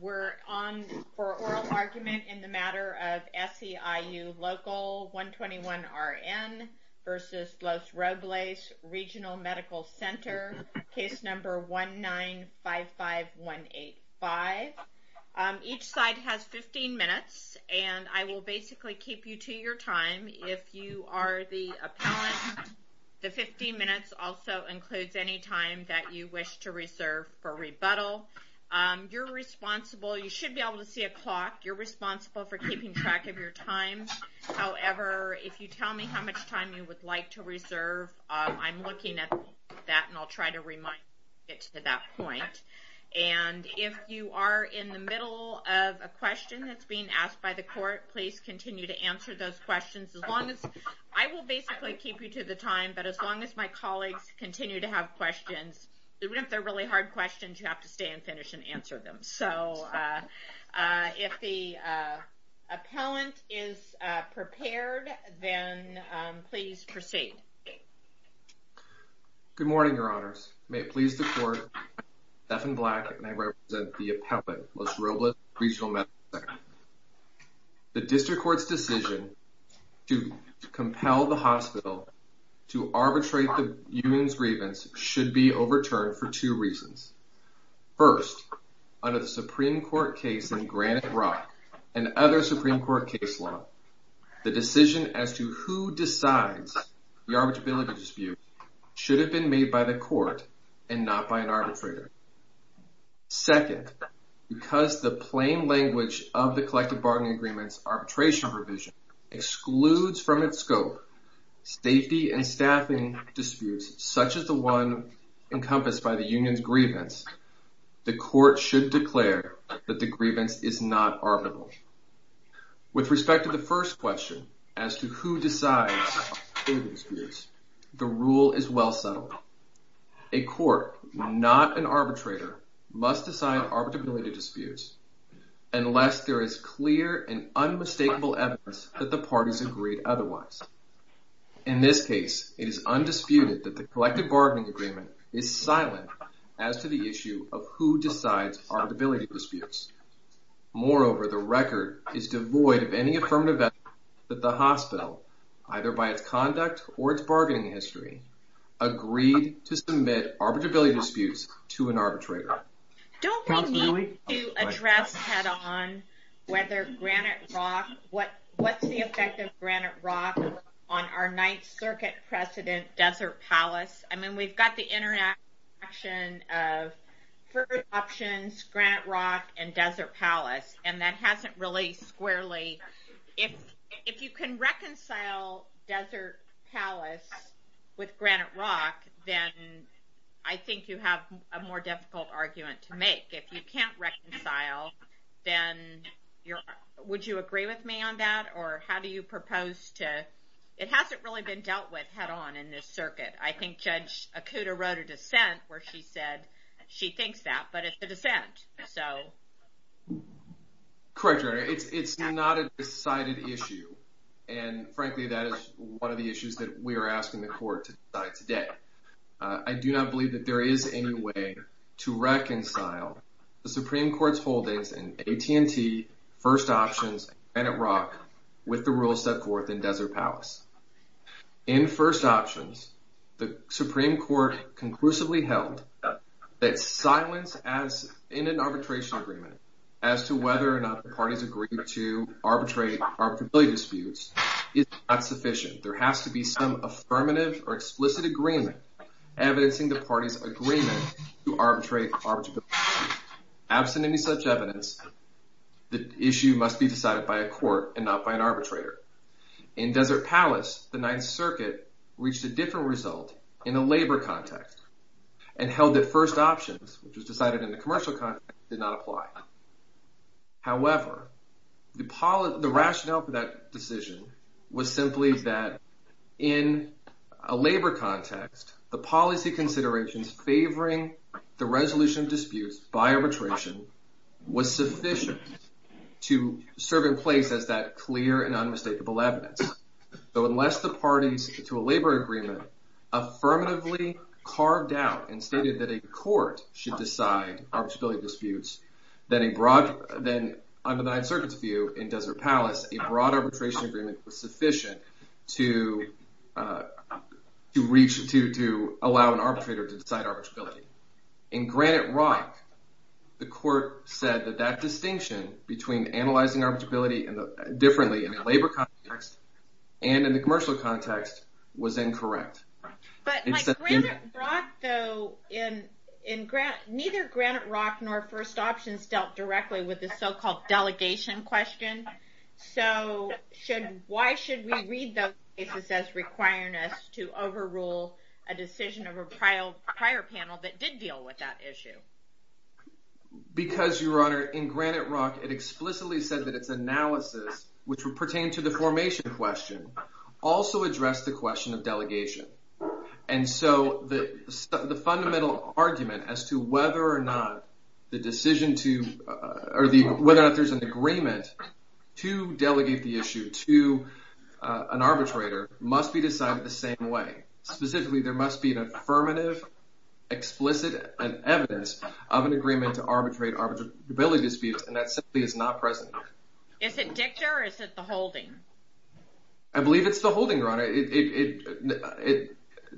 We're on for oral argument in the matter of SEIU Local 121RN v. Los Robles Reg'l Medical Ctr. Case number 1955185. Each side has 15 minutes and I will basically keep you to your time. If you are the appellant, the 15 minutes also includes any time that you wish to reserve for rebuttal. You're responsible, you should be able to see a clock, you're responsible for keeping track of your time. However, if you tell me how much time you would like to reserve, I'm looking at that and I'll try to remind you to get to that point. And if you are in the middle of a question that's being asked by the court, please continue to answer those questions. I will basically keep you to the time, but as long as my colleagues continue to have questions, even if they're really hard questions, you have to stay and finish and answer them. So if the appellant is prepared, then please proceed. Good morning, Your Honors. May it please the Court, I'm Stephen Black and I represent the appellant, Los Robles Regional Medical Center. The District Court's decision to compel the hospital to arbitrate the union's grievance should be overturned for two reasons. First, under the Supreme Court case in Granite Rock and other Supreme Court case law, the decision as to who decides the arbitrability dispute should have been made by the court and not by an arbitrator. Second, because the plain language of the collective bargaining agreement's arbitration provision excludes from its scope safety and staffing disputes such as the one encompassed by the union's grievance, the court should declare that the grievance is not arbitrable. With respect to the first question, as to who decides arbitrability disputes, the rule is well settled. A court, not an arbitrator, must decide arbitrability disputes unless there is clear and unmistakable evidence that the parties agreed otherwise. In this case, it is undisputed that the collective bargaining agreement is silent as to the issue of who decides arbitrability disputes. Moreover, the record is devoid of any affirmative evidence that the hospital, either by its conduct or its bargaining history, agreed to submit arbitrability disputes to an arbitrator. Don't we need to address head-on what's the effect of Granite Rock on our Ninth Circuit precedent, Desert Palace? I mean, we've got the interaction of first options, Granite Rock and Desert Palace, and that hasn't really squarely... If you can reconcile Desert Palace with Granite Rock, then I think you have a more difficult argument to make. If you can't reconcile, then would you agree with me on that, or how do you propose to... It hasn't really been dealt with head-on in this circuit. I think Judge Okuda wrote a dissent where she said she thinks that, but it's a dissent. Correct, Your Honor. It's not a decided issue, and frankly, that is one of the issues that we are asking the court to decide today. I do not believe that there is any way to reconcile the Supreme Court's holdings in AT&T, first options, and Granite Rock with the rules set forth in Desert Palace. In first options, the Supreme Court conclusively held that silence in an arbitration agreement as to whether or not the parties agreed to arbitrate arbitrability disputes is not sufficient. There has to be some affirmative or explicit agreement evidencing the parties' agreement to arbitrate arbitrability disputes. Absent any such evidence, the issue must be decided by a court and not by an arbitrator. In Desert Palace, the Ninth Circuit reached a different result in a labor context and held that first options, which was decided in the commercial context, did not apply. However, the rationale for that decision was simply that in a labor context, the policy considerations favoring the resolution of disputes by arbitration was sufficient to serve in place as that clear and unmistakable evidence. So unless the parties to a labor agreement affirmatively carved out and stated that a court should decide arbitrability disputes, then under the Ninth Circuit's view in Desert Palace, a broad arbitration agreement was sufficient to allow an arbitrator to decide arbitrability. In Granite Rock, the court said that that distinction between analyzing arbitrability differently in a labor context and in the commercial context was incorrect. But like Granite Rock, though, neither Granite Rock nor first options dealt directly with the so-called delegation question. So why should we read those cases as requiring us to overrule a decision of a prior panel that did deal with that issue? Because, Your Honor, in Granite Rock, it explicitly said that its analysis, which would pertain to the formation question, also addressed the question of delegation. And so the fundamental argument as to whether or not there's an agreement to delegate the issue to an arbitrator must be decided the same way. Specifically, there must be an affirmative, explicit evidence of an agreement to arbitrate arbitrability disputes, and that simply is not present. Is it dicta or is it the holding? I believe it's the holding, Your Honor. It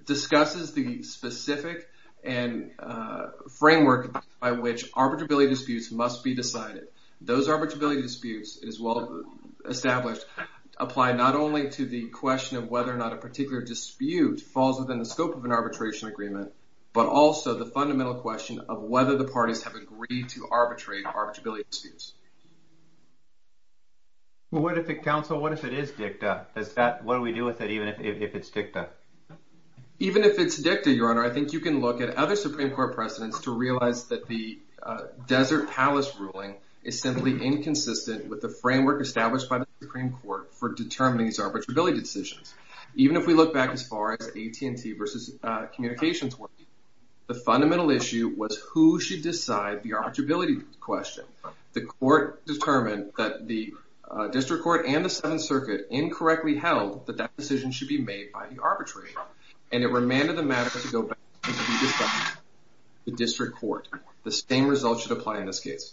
discusses the specific framework by which arbitrability disputes must be decided. Those arbitrability disputes, as well established, apply not only to the question of whether or not a particular dispute falls within the scope of an arbitration agreement, but also the fundamental question of whether the parties have agreed to arbitrate arbitrability disputes. Well, what if it, counsel, what if it is dicta? What do we do with it even if it's dicta? Even if it's dicta, Your Honor, I think you can look at other Supreme Court precedents to realize that the Desert Palace ruling is simply inconsistent with the framework established by the Supreme Court for determining these arbitrability decisions. Even if we look back as far as AT&T versus communications, the fundamental issue was who should decide the arbitrability question. The court determined that the district court and the Seventh Circuit incorrectly held that that decision should be made by the arbitrator, and it remanded the matter to go back to the district court. The same result should apply in this case.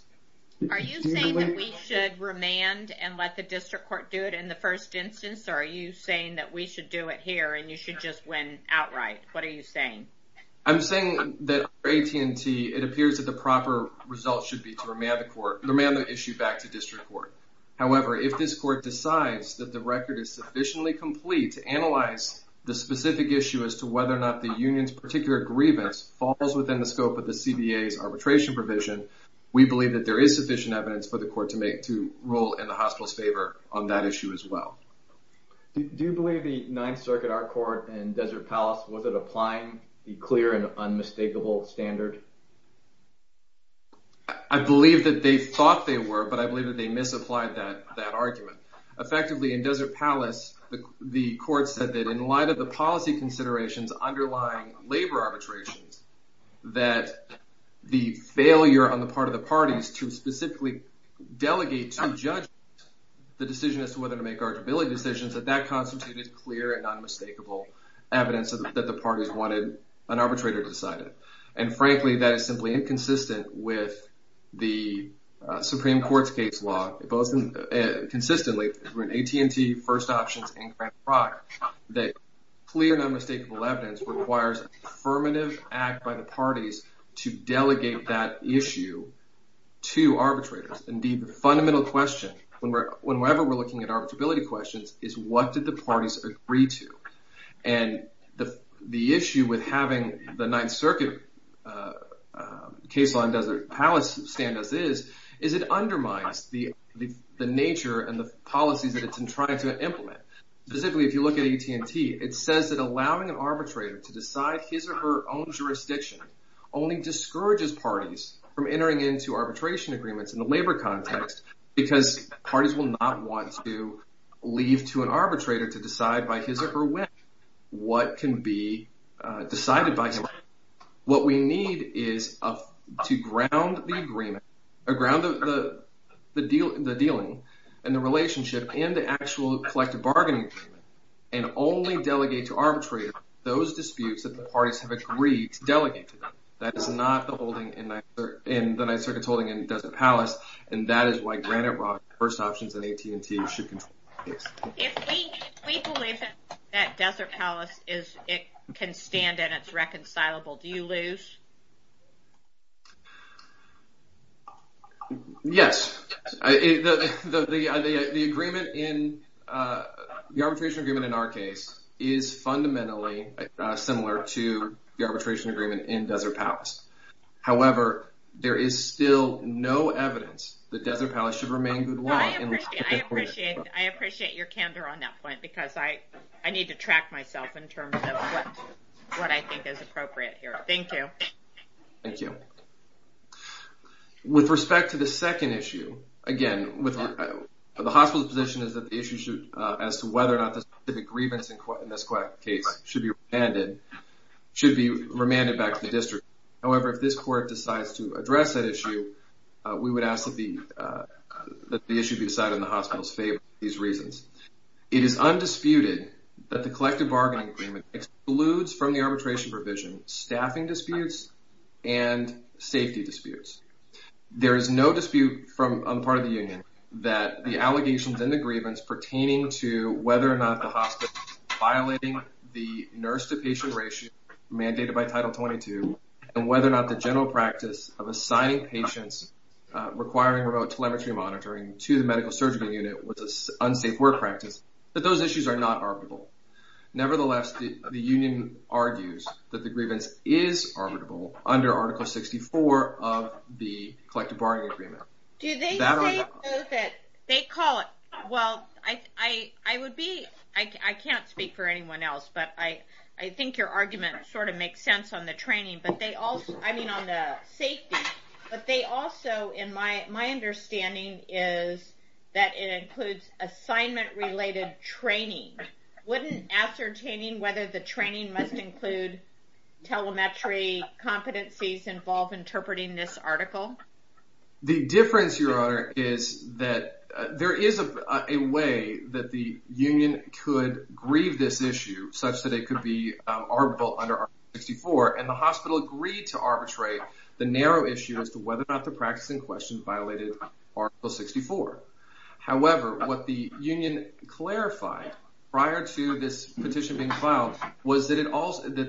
Are you saying that we should remand and let the district court do it in the first instance, or are you saying that we should do it here and you should just win outright? What are you saying? I'm saying that AT&T, it appears that the proper result should be to remand the issue back to district court. However, if this court decides that the record is sufficiently complete to analyze the specific issue as to whether or not the union's particular grievance falls within the scope of the CBA's arbitration provision, we believe that there is sufficient evidence for the court to roll in the hospital's favor on that issue as well. Do you believe the Ninth Circuit, our court, and Desert Palace, was it applying the clear and unmistakable standard? I believe that they thought they were, but I believe that they misapplied that argument. Effectively, in Desert Palace, the court said that in light of the policy considerations underlying labor arbitrations, that the failure on the part of the parties to specifically delegate to judges the decision as to whether to make arbitrability decisions, that that constituted clear and unmistakable evidence that the parties wanted an arbitrator to decide it. And frankly, that is simply inconsistent with the Supreme Court's case law, both consistently in AT&T, First Options, and Grand Prax, that clear and unmistakable evidence requires affirmative act by the parties to delegate that issue to arbitrators. Indeed, the fundamental question, whenever we're looking at arbitrability questions, is what did the parties agree to? And the issue with having the Ninth Circuit case law in Desert Palace stand as is, is it undermines the nature and the policies that it's trying to implement. Specifically, if you look at AT&T, it says that allowing an arbitrator to decide his or her own jurisdiction only discourages parties from entering into arbitration agreements in the labor context, because parties will not want to leave to an arbitrator to decide by his or her whim what can be decided by him. What we need is to ground the agreement, ground the dealing, and the relationship, and the actual collective bargaining agreement, and only delegate to arbitrators those disputes that the parties have agreed to delegate to them. That is not the Ninth Circuit's holding in Desert Palace, and that is why Grand Prax, First Options, and AT&T should control the case. If we believe that Desert Palace can stand and it's reconcilable, do you lose? Yes. The arbitration agreement in our case is fundamentally similar to the arbitration agreement in Desert Palace. However, there is still no evidence that Desert Palace should remain good law. I appreciate your candor on that point, because I need to track myself in terms of what I think is appropriate here. Thank you. Thank you. With respect to the second issue, again, the hospital's position is that the issue as to whether or not the grievance in this case should be remanded back to the district. However, if this court decides to address that issue, we would ask that the issue be decided in the hospital's favor for these reasons. It is undisputed that the collective bargaining agreement excludes from the arbitration provision staffing disputes and safety disputes. There is no dispute on the part of the union that the allegations in the grievance pertaining to whether or not the hospital is violating the nurse-to-patient ratio mandated by Title 22, and whether or not the general practice of assigning patients requiring remote telemetry monitoring to the medical surgical unit was an unsafe work practice, that those issues are not arbitrable. Do they say that? They call it. Well, I can't speak for anyone else, but I think your argument sort of makes sense on the safety. But they also, in my understanding, is that it includes assignment-related training. Wouldn't ascertaining whether the training must include telemetry competencies involve interpreting this article? The difference, Your Honor, is that there is a way that the union could grieve this issue such that it could be arbitral under Article 64, and the hospital agreed to arbitrate the narrow issue as to whether or not the practice in question violated Article 64. However, what the union clarified prior to this petition being filed was that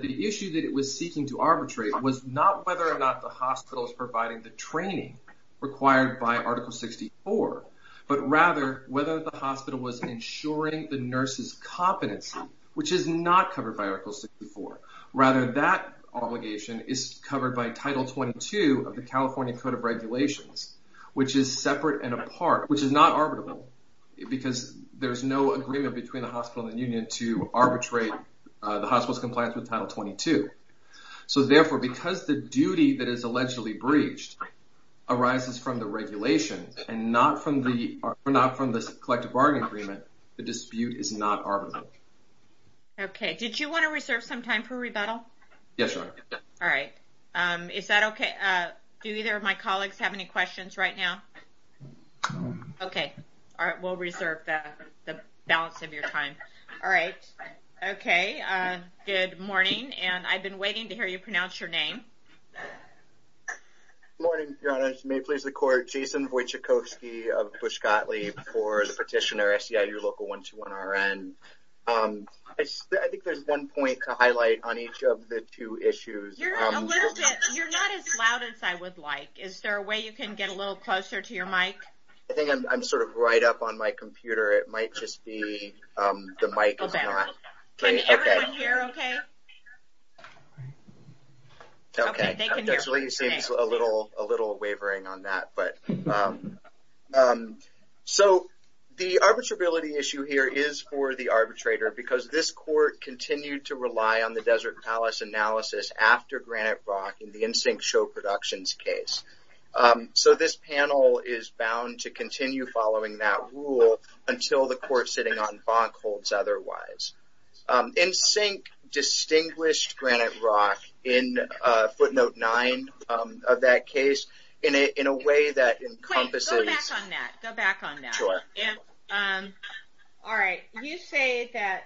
the issue that it was seeking to arbitrate was not whether or not the hospital is providing the training required by Article 64, but rather whether the hospital was ensuring the nurse's competency, which is not covered by Article 64. Rather, that obligation is covered by Title 22 of the California Code of Regulations, which is separate and apart, which is not arbitrable, because there's no agreement between the hospital and the union to arbitrate the hospital's compliance with Title 22. So therefore, because the duty that is allegedly breached arises from the regulation and not from the collective bargain agreement, the dispute is not arbitrable. Okay, did you want to reserve some time for rebuttal? Yes, Your Honor. All right. Is that okay? Do either of my colleagues have any questions right now? Okay. All right, we'll reserve the balance of your time. All right. Okay. Good morning, and I've been waiting to hear you pronounce your name. Good morning, Your Honor. May it please the Court, Jason Wojciechowski of Pushkotly for the petitioner, SEIU Local 121RN. I think there's one point to highlight on each of the two issues. You're not as loud as I would like. Is there a way you can get a little closer to your mic? I think I'm sort of right up on my computer. It might just be the mic is not. Okay. Can everyone hear okay? Okay. They can hear. It definitely seems a little wavering on that. So, the arbitrability issue here is for the arbitrator because this court continued to rely on the Desert Palace analysis after Granite Rock in the NSYNC show productions case. So, this panel is bound to continue following that rule until the court sitting on Bonk holds otherwise. NSYNC distinguished Granite Rock in footnote nine of that case in a way that encompasses. Go back on that. Go back on that. Sure. All right. You say that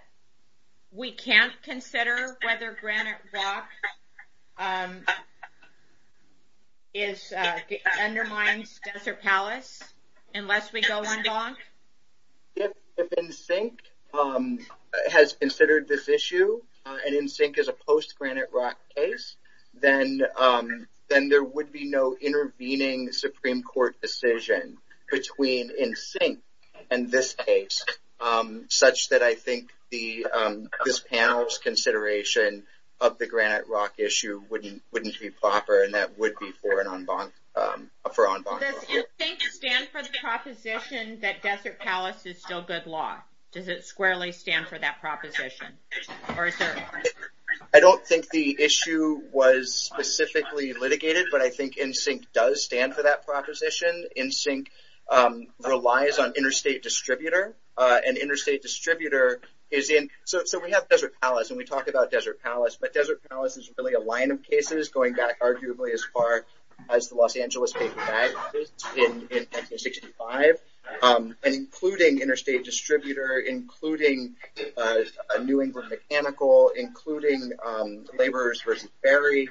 we can't consider whether Granite Rock undermines Desert Palace unless we go on Bonk? If NSYNC has considered this issue and NSYNC is a post-Granite Rock case, then there would be no intervening Supreme Court decision between NSYNC and this case, such that I think this panel's consideration of the Granite Rock issue wouldn't be proper, and that would be for on Bonk. Does NSYNC stand for the proposition that Desert Palace is still good law? Does it squarely stand for that proposition? I don't think the issue was specifically litigated, but I think NSYNC does stand for that proposition. NSYNC relies on interstate distributor, and interstate distributor is in. So, we have Desert Palace, and we talk about Desert Palace, but Desert Palace is really a line of cases going back arguably as far as the Los Angeles paperback in 1965, and including interstate distributor, including a New England mechanical, including laborers versus ferry.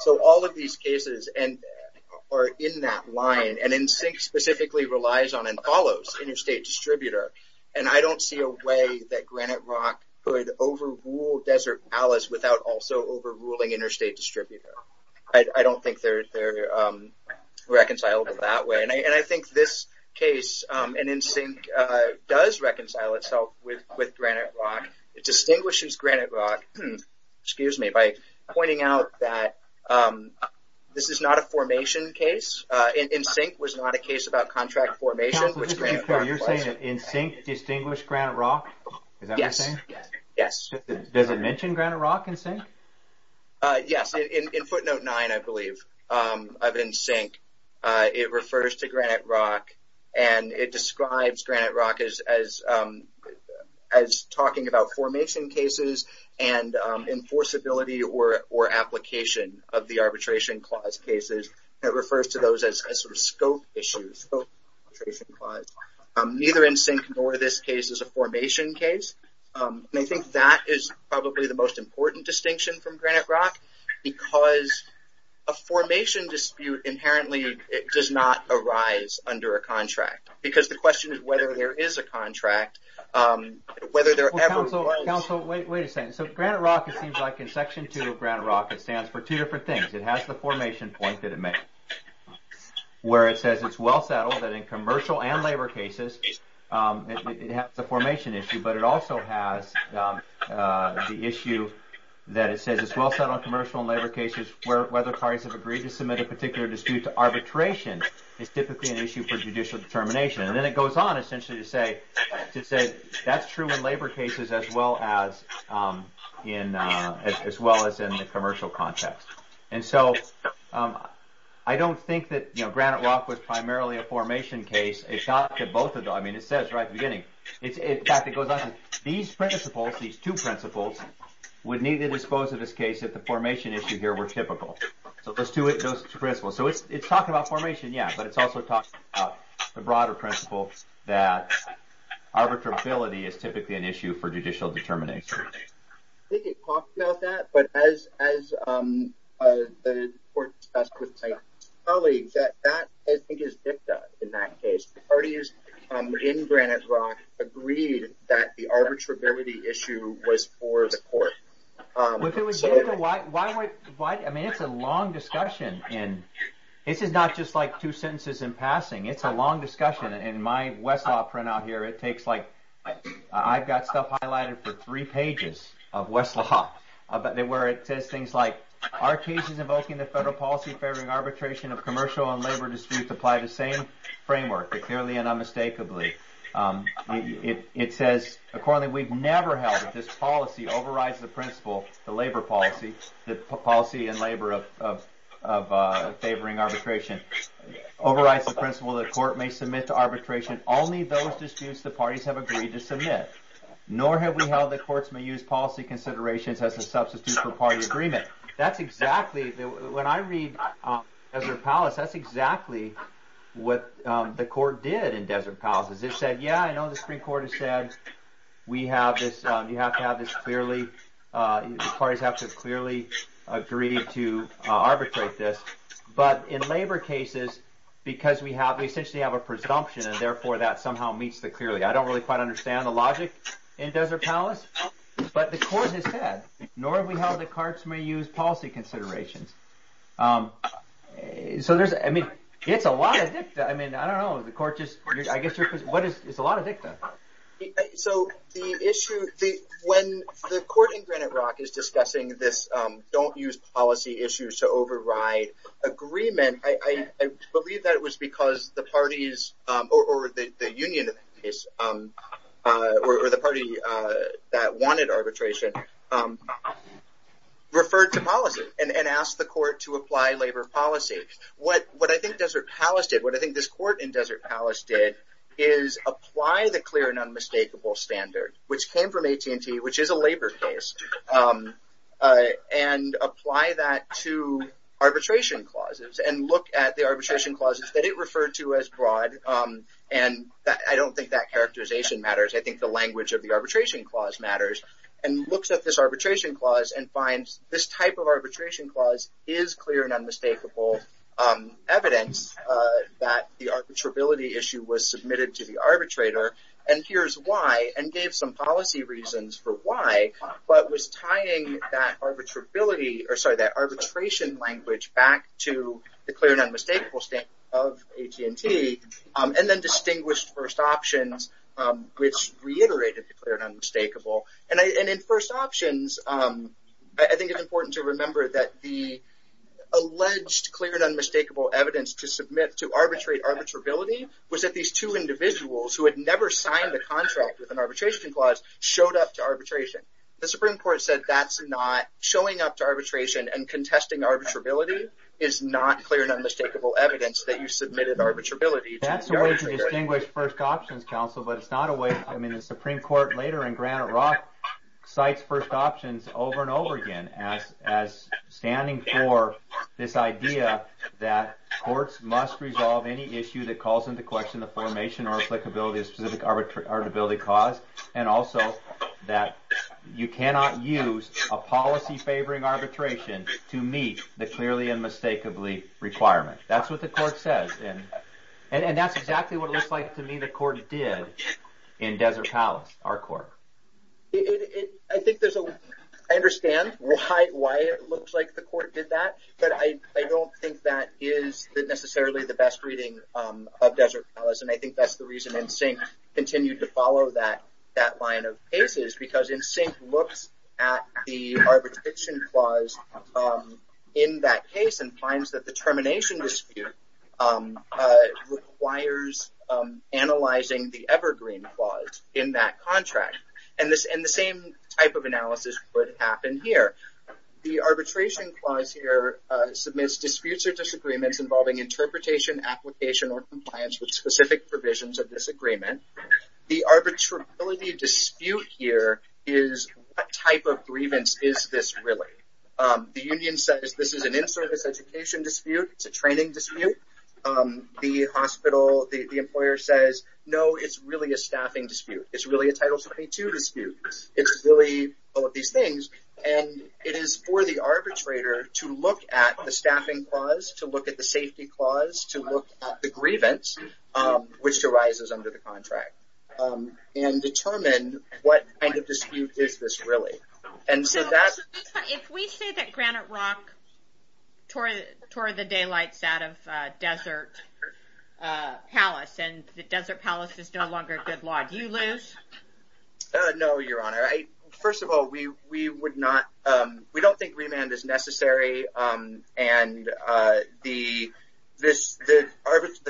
So, all of these cases are in that line, and NSYNC specifically relies on and follows interstate distributor, and I don't see a way that Granite Rock could overrule Desert Palace without also overruling interstate distributor. I don't think they're reconcilable that way, and I think this case, and NSYNC does reconcile itself with Granite Rock. It distinguishes Granite Rock by pointing out that this is not a formation case. NSYNC was not a case about contract formation, which Granite Rock was. So, you're saying that NSYNC distinguished Granite Rock? Is that what you're saying? Yes. Does it mention Granite Rock NSYNC? Yes. In footnote 9, I believe, of NSYNC, it refers to Granite Rock, and it describes Granite Rock as talking about formation cases and enforceability or application of the arbitration clause cases. It refers to those as sort of scope issues, scope arbitration clause. Neither NSYNC nor this case is a formation case, and I think that is probably the most important distinction from Granite Rock because a formation dispute inherently does not arise under a contract, because the question is whether there is a contract, whether there ever was. Council, wait a second. So, Granite Rock, it seems like in Section 2 of Granite Rock, it stands for two different things. It has the formation point that it makes, where it says it's well settled that in commercial and labor cases, it has the formation issue, but it also has the issue that it says it's well settled in commercial and labor cases whether parties have agreed to submit a particular dispute to arbitration is typically an issue for judicial determination. And then it goes on essentially to say that's true in labor cases as well as in the commercial context. And so, I don't think that, you know, Granite Rock was primarily a formation case. It got to both of them. I mean, it says right at the beginning. In fact, it goes on to say these principles, these two principles, would need to dispose of this case if the formation issue here were typical. So, those two principles. So, it's talking about formation, yeah, but it's also talking about the broader principle that arbitrability is typically an issue for judicial determination. I think it talks about that, but as the court discussed with my colleagues, that I think is dicta in that case. Parties in Granite Rock agreed that the arbitrability issue was for the court. If it was dicta, why, I mean, it's a long discussion. And this is not just like two sentences in passing. It's a long discussion. In my Westlaw printout here, it takes like, I've got stuff highlighted for three pages of Westlaw where it says things like, our cases invoking the federal policy favoring arbitration of commercial and labor disputes apply to the same framework, clearly and unmistakably. It says, accordingly, we've never held that this policy overrides the principle, the labor policy, the policy in labor of favoring arbitration, overrides the principle that the court may submit to arbitration only those disputes the parties have agreed to submit. Nor have we held that courts may use policy considerations as a substitute for party agreement. That's exactly, when I read Desert Palace, that's exactly what the court did in Desert Palace. It said, yeah, I know the Supreme Court has said we have this, you have to have this clearly, parties have to clearly agree to arbitrate this. But in labor cases, because we have, we essentially have a presumption, and therefore that somehow meets the clearly. I don't really quite understand the logic in Desert Palace, but the court has said, nor have we held that courts may use policy considerations. So there's, I mean, it's a lot of dicta. I mean, I don't know, the court just, I guess you're, what is, it's a lot of dicta. So the issue, when the court in Granite Rock is discussing this don't use policy issues to override agreement, I believe that it was because the parties, or the union, or the party that wanted arbitration referred to policy and asked the court to apply labor policy. What I think Desert Palace did, what I think this court in Desert Palace did, is apply the clear and unmistakable standard, which came from AT&T, which is a labor case, and apply that to arbitration clauses, and look at the arbitration clauses that it referred to as broad, and I don't think that characterization matters, I think the language of the arbitration clause matters, and looks at this arbitration clause and finds this type of arbitration clause is clear and unmistakable evidence that the arbitrability issue was submitted to the arbitrator, and here's why, and gave some policy reasons for why, but was tying that arbitrability, or sorry, that arbitration language back to the clear and unmistakable standard of AT&T, and then distinguished first options, which reiterated the clear and unmistakable, and in first options, I think it's important to remember that the alleged clear and unmistakable evidence to submit to arbitrate arbitrability was that these two individuals who had never signed a contract with an arbitration clause showed up to arbitration. The Supreme Court said that's not, showing up to arbitration and contesting arbitrability is not clear and unmistakable evidence that you submitted arbitrability to arbitration. That's a way to distinguish first options, counsel, but it's not a way, I mean the Supreme Court later in Granite Rock cites first options over and over again as standing for this idea that courts must resolve any issue that calls into question the formation or applicability of specific arbitrability clause, and also that you cannot use a policy favoring arbitration to meet the clearly and mistakably requirement. That's what the court says, and that's exactly what it looks like to me the court did in Desert Palace, our court. I think there's a, I understand why it looks like the court did that, but I don't think that is necessarily the best reading of Desert Palace, and I think that's the reason NSYNC continued to follow that line of cases, because NSYNC looks at the arbitration clause in that case and finds that the termination dispute requires analyzing the evergreen clause in that contract, and the same type of analysis would happen here. The arbitration clause here submits disputes or disagreements involving interpretation, application, or compliance with specific provisions of this agreement. The arbitrability dispute here is what type of grievance is this really? The union says this is an in-service education dispute, it's a training dispute. The hospital, the employer says, no, it's really a staffing dispute. It's really a Title 72 dispute. It's really all of these things, and it is for the arbitrator to look at the staffing clause, to look at the safety clause, to look at the grievance, which arises under the contract, and determine what kind of dispute is this really. If we say that Granite Rock tore the daylights out of Desert Palace and that Desert Palace is no longer a good law, do you lose? No, Your Honor. First of all, we don't think remand is necessary, and the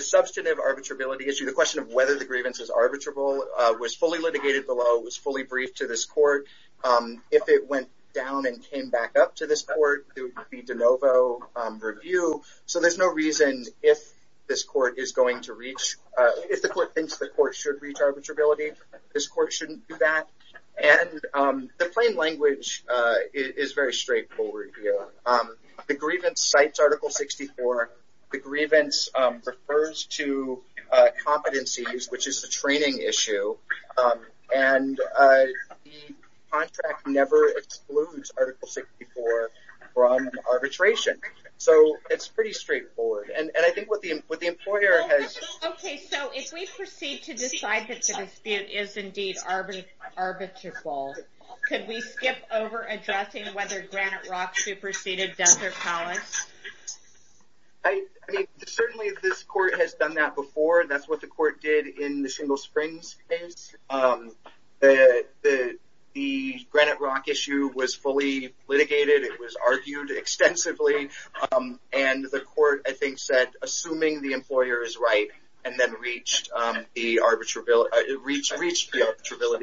substantive arbitrability issue, the question of whether the grievance is arbitrable, was fully litigated below, was fully briefed to this court. If it went down and came back up to this court, there would be de novo review. So there's no reason if this court is going to reach, if the court thinks the court should reach arbitrability, this court shouldn't do that. And the plain language is very straightforward here. The grievance cites Article 64. The grievance refers to competencies, which is a training issue. And the contract never excludes Article 64 from arbitration. So it's pretty straightforward. And I think what the employer has... Okay, so if we proceed to decide that the dispute is indeed arbitrable, could we skip over addressing whether Granite Rock superseded Desert Palace? I mean, certainly this court has done that before. That's what the court did in the Single Springs case. The Granite Rock issue was fully litigated. It was argued extensively. And the court, I think, said, assuming the employer is right, and then reached the arbitrability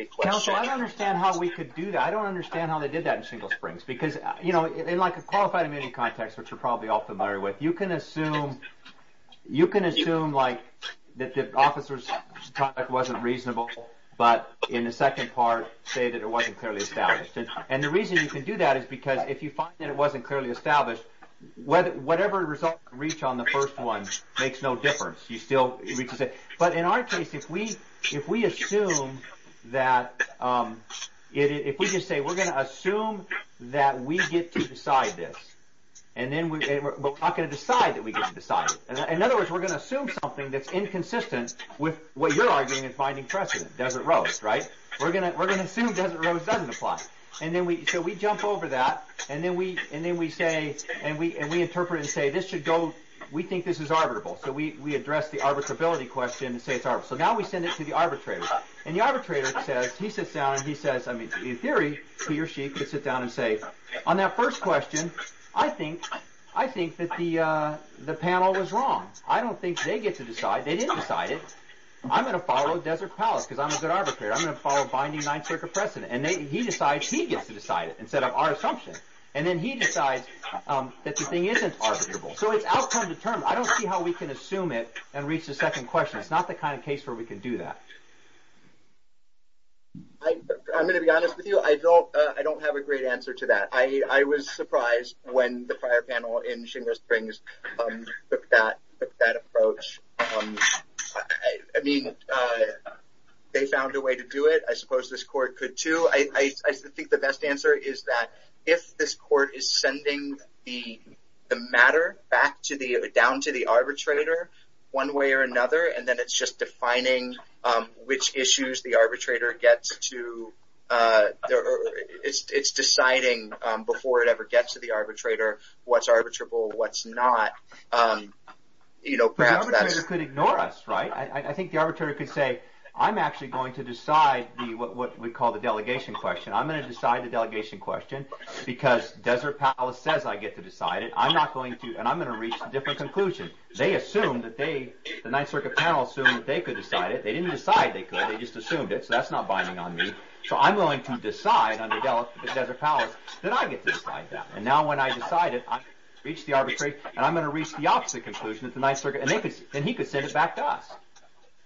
question. Counsel, I don't understand how we could do that. I don't understand how they did that in Single Springs. Because, you know, in like a qualified amending context, which you're probably all familiar with, you can assume like that the officer's conduct wasn't reasonable, but in the second part say that it wasn't clearly established. And the reason you can do that is because if you find that it wasn't clearly established, whatever result you reach on the first one makes no difference. You still reach the same. But in our case, if we assume that... that we get to decide this, and then we're not going to decide that we get to decide it. In other words, we're going to assume something that's inconsistent with what you're arguing in finding precedent, Desert Rose, right? We're going to assume Desert Rose doesn't apply. So we jump over that, and then we interpret it and say, we think this is arbitrable. So we address the arbitrability question and say it's arbitrable. So now we send it to the arbitrator. And the arbitrator says, he sits down and he says, I mean, in theory, he or she could sit down and say, on that first question, I think that the panel was wrong. I don't think they get to decide. They didn't decide it. I'm going to follow Desert Palace because I'm a good arbitrator. I'm going to follow binding Ninth Circuit precedent. And he decides he gets to decide it instead of our assumption. And then he decides that the thing isn't arbitrable. So it's outcome determined. I don't see how we can assume it and reach the second question. It's not the kind of case where we can do that. I'm going to be honest with you. I don't have a great answer to that. I was surprised when the prior panel in Shingo Springs took that approach. I mean, they found a way to do it. I suppose this court could, too. I think the best answer is that if this court is sending the matter back down to the arbitrator one way or another, and then it's just defining which issues the arbitrator gets to, it's deciding before it ever gets to the arbitrator what's arbitrable, what's not. You know, perhaps that's... The arbitrator could ignore us, right? I think the arbitrator could say, I'm actually going to decide what we call the delegation question. I'm going to decide the delegation question because Desert Palace says I get to decide it. I'm not going to, and I'm going to reach a different conclusion. They assumed that they, the Ninth Circuit panel assumed that they could decide it. They didn't decide they could, they just assumed it, so that's not binding on me. So I'm willing to decide under Desert Palace that I get to decide that. And now when I decide it, I reach the arbitration, and I'm going to reach the opposite conclusion at the Ninth Circuit, and he could send it back to us. I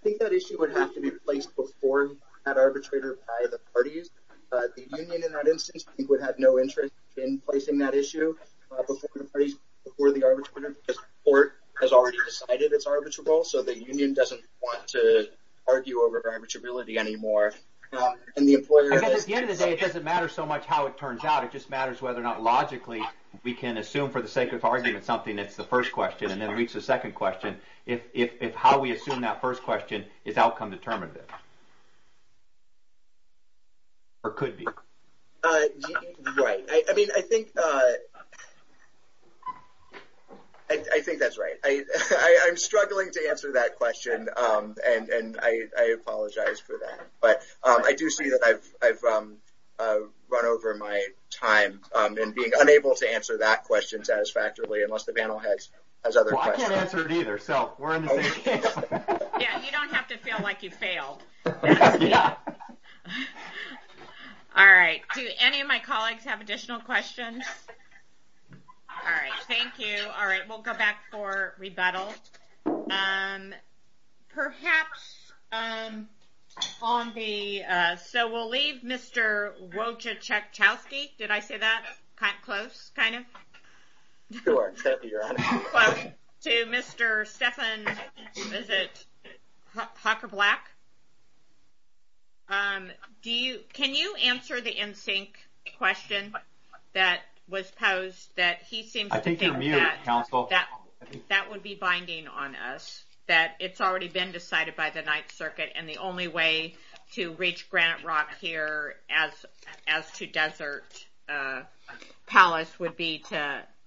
think that issue would have to be placed before that arbitrator by the parties. The union, in that instance, I think would have no interest in placing that issue before the parties, before the arbitrator because the court has already decided it's arbitrable, so the union doesn't want to argue over arbitrability anymore, and the employer has to. I guess at the end of the day it doesn't matter so much how it turns out, it just matters whether or not logically we can assume for the sake of argument something that's the first question and then reach the second question, if how we assume that first question is outcome determinative, or could be. Right. I mean, I think that's right. I'm struggling to answer that question, and I apologize for that. But I do see that I've run over my time in being unable to answer that question satisfactorily, unless the panel has other questions. Well, I can't answer it either, so we're on the same page. Yeah, you don't have to feel like you failed. All right. Do any of my colleagues have additional questions? All right. Thank you. All right. We'll go back for rebuttal. Perhaps on the... So we'll leave Mr. Wojciechowski. Did I say that close, kind of? You are, Stephanie, Your Honor. Close to Mr. Stephan... Can you answer the NSYNC question that was posed, that he seems to think that would be binding on us, that it's already been decided by the Ninth Circuit, and the only way to reach Granite Rock here as to Desert Palace would be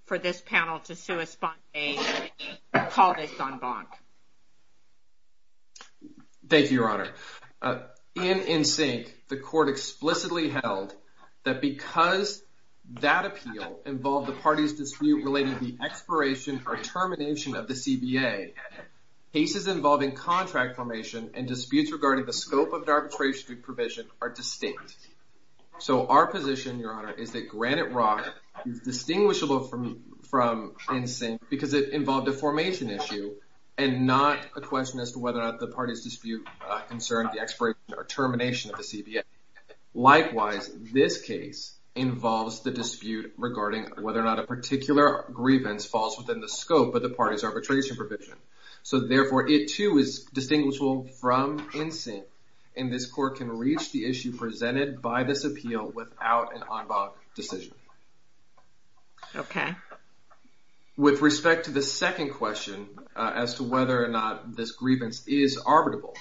for this panel to call this en banc. Thank you, Your Honor. In NSYNC, the court explicitly held that because that appeal involved the party's dispute relating the expiration or termination of the CBA, cases involving contract formation and disputes regarding the scope of arbitration provision are distinct. So our position, Your Honor, is that Granite Rock is distinguishable from NSYNC because it involved a formation issue and not a question as to whether or not the party's dispute concerned the expiration or termination of the CBA. Likewise, this case involves the dispute regarding whether or not a particular grievance falls within the scope of the party's arbitration provision. So therefore, it, too, is distinguishable from NSYNC, and this court can reach the issue presented by this appeal without an en banc decision. Okay. With respect to the second question as to whether or not this grievance is arbitrable,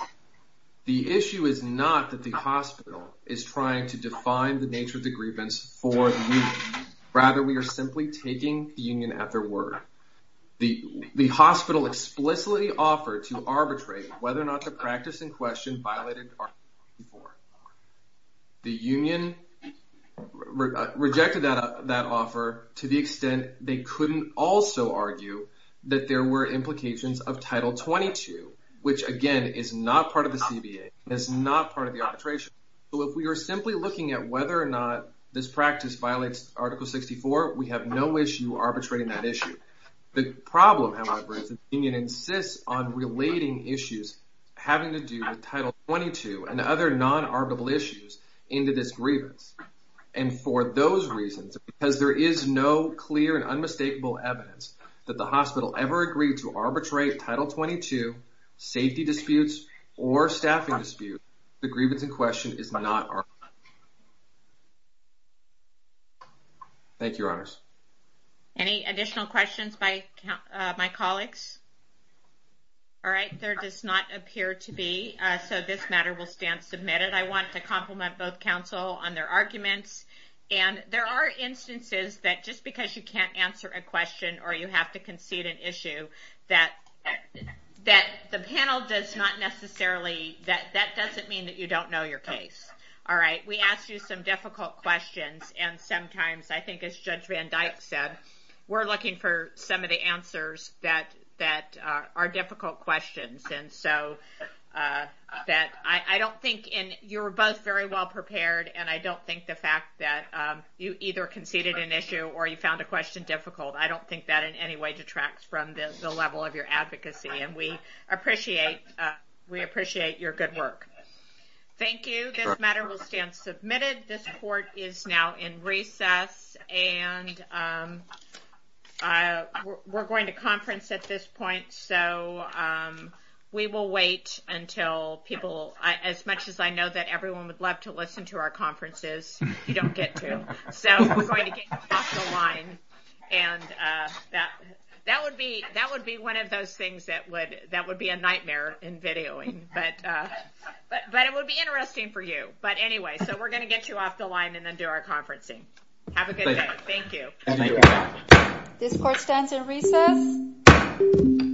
the issue is not that the hospital is trying to define the nature of the grievance for the union. Rather, we are simply taking the union at their word. The hospital explicitly offered to arbitrate whether or not the practice in question violated Article 24. The union rejected that offer to the extent they couldn't also argue that there were implications of Title 22, which, again, is not part of the CBA and is not part of the arbitration. So if we are simply looking at whether or not this practice violates Article 64, we have no issue arbitrating that issue. The problem, however, is that the union insists on relating issues having to do with Title 22 and other non-arbitrable issues into this grievance. And for those reasons, because there is no clear and unmistakable evidence that the hospital ever agreed to arbitrate Title 22, safety disputes, or staffing disputes, the grievance in question is not arbitrable. Thank you, Your Honors. Any additional questions by my colleagues? All right. There does not appear to be, so this matter will stand submitted. I want to compliment both counsel on their arguments. And there are instances that, just because you can't answer a question or you have to concede an issue, that the panel does not necessarily... That doesn't mean that you don't know your case. All right? We asked you some difficult questions, and sometimes, I think, as Judge Van Dyke said, we're looking for some of the answers that are difficult questions. And so I don't think... And you were both very well-prepared, and I don't think the fact that you either conceded an issue or you found a question difficult, I don't think that in any way detracts from the level of your advocacy. And we appreciate your good work. Thank you. This matter will stand submitted. This court is now in recess, and we're going to conference at this point. So we will wait until people... As much as I know that everyone would love to listen to our conferences, you don't get to. So we're going to get you off the line. And that would be one of those things that would be a nightmare in videoing. But it would be interesting for you. But anyway, so we're going to get you off the line and then do our conferencing. Have a good day. Thank you. This court stands in recess.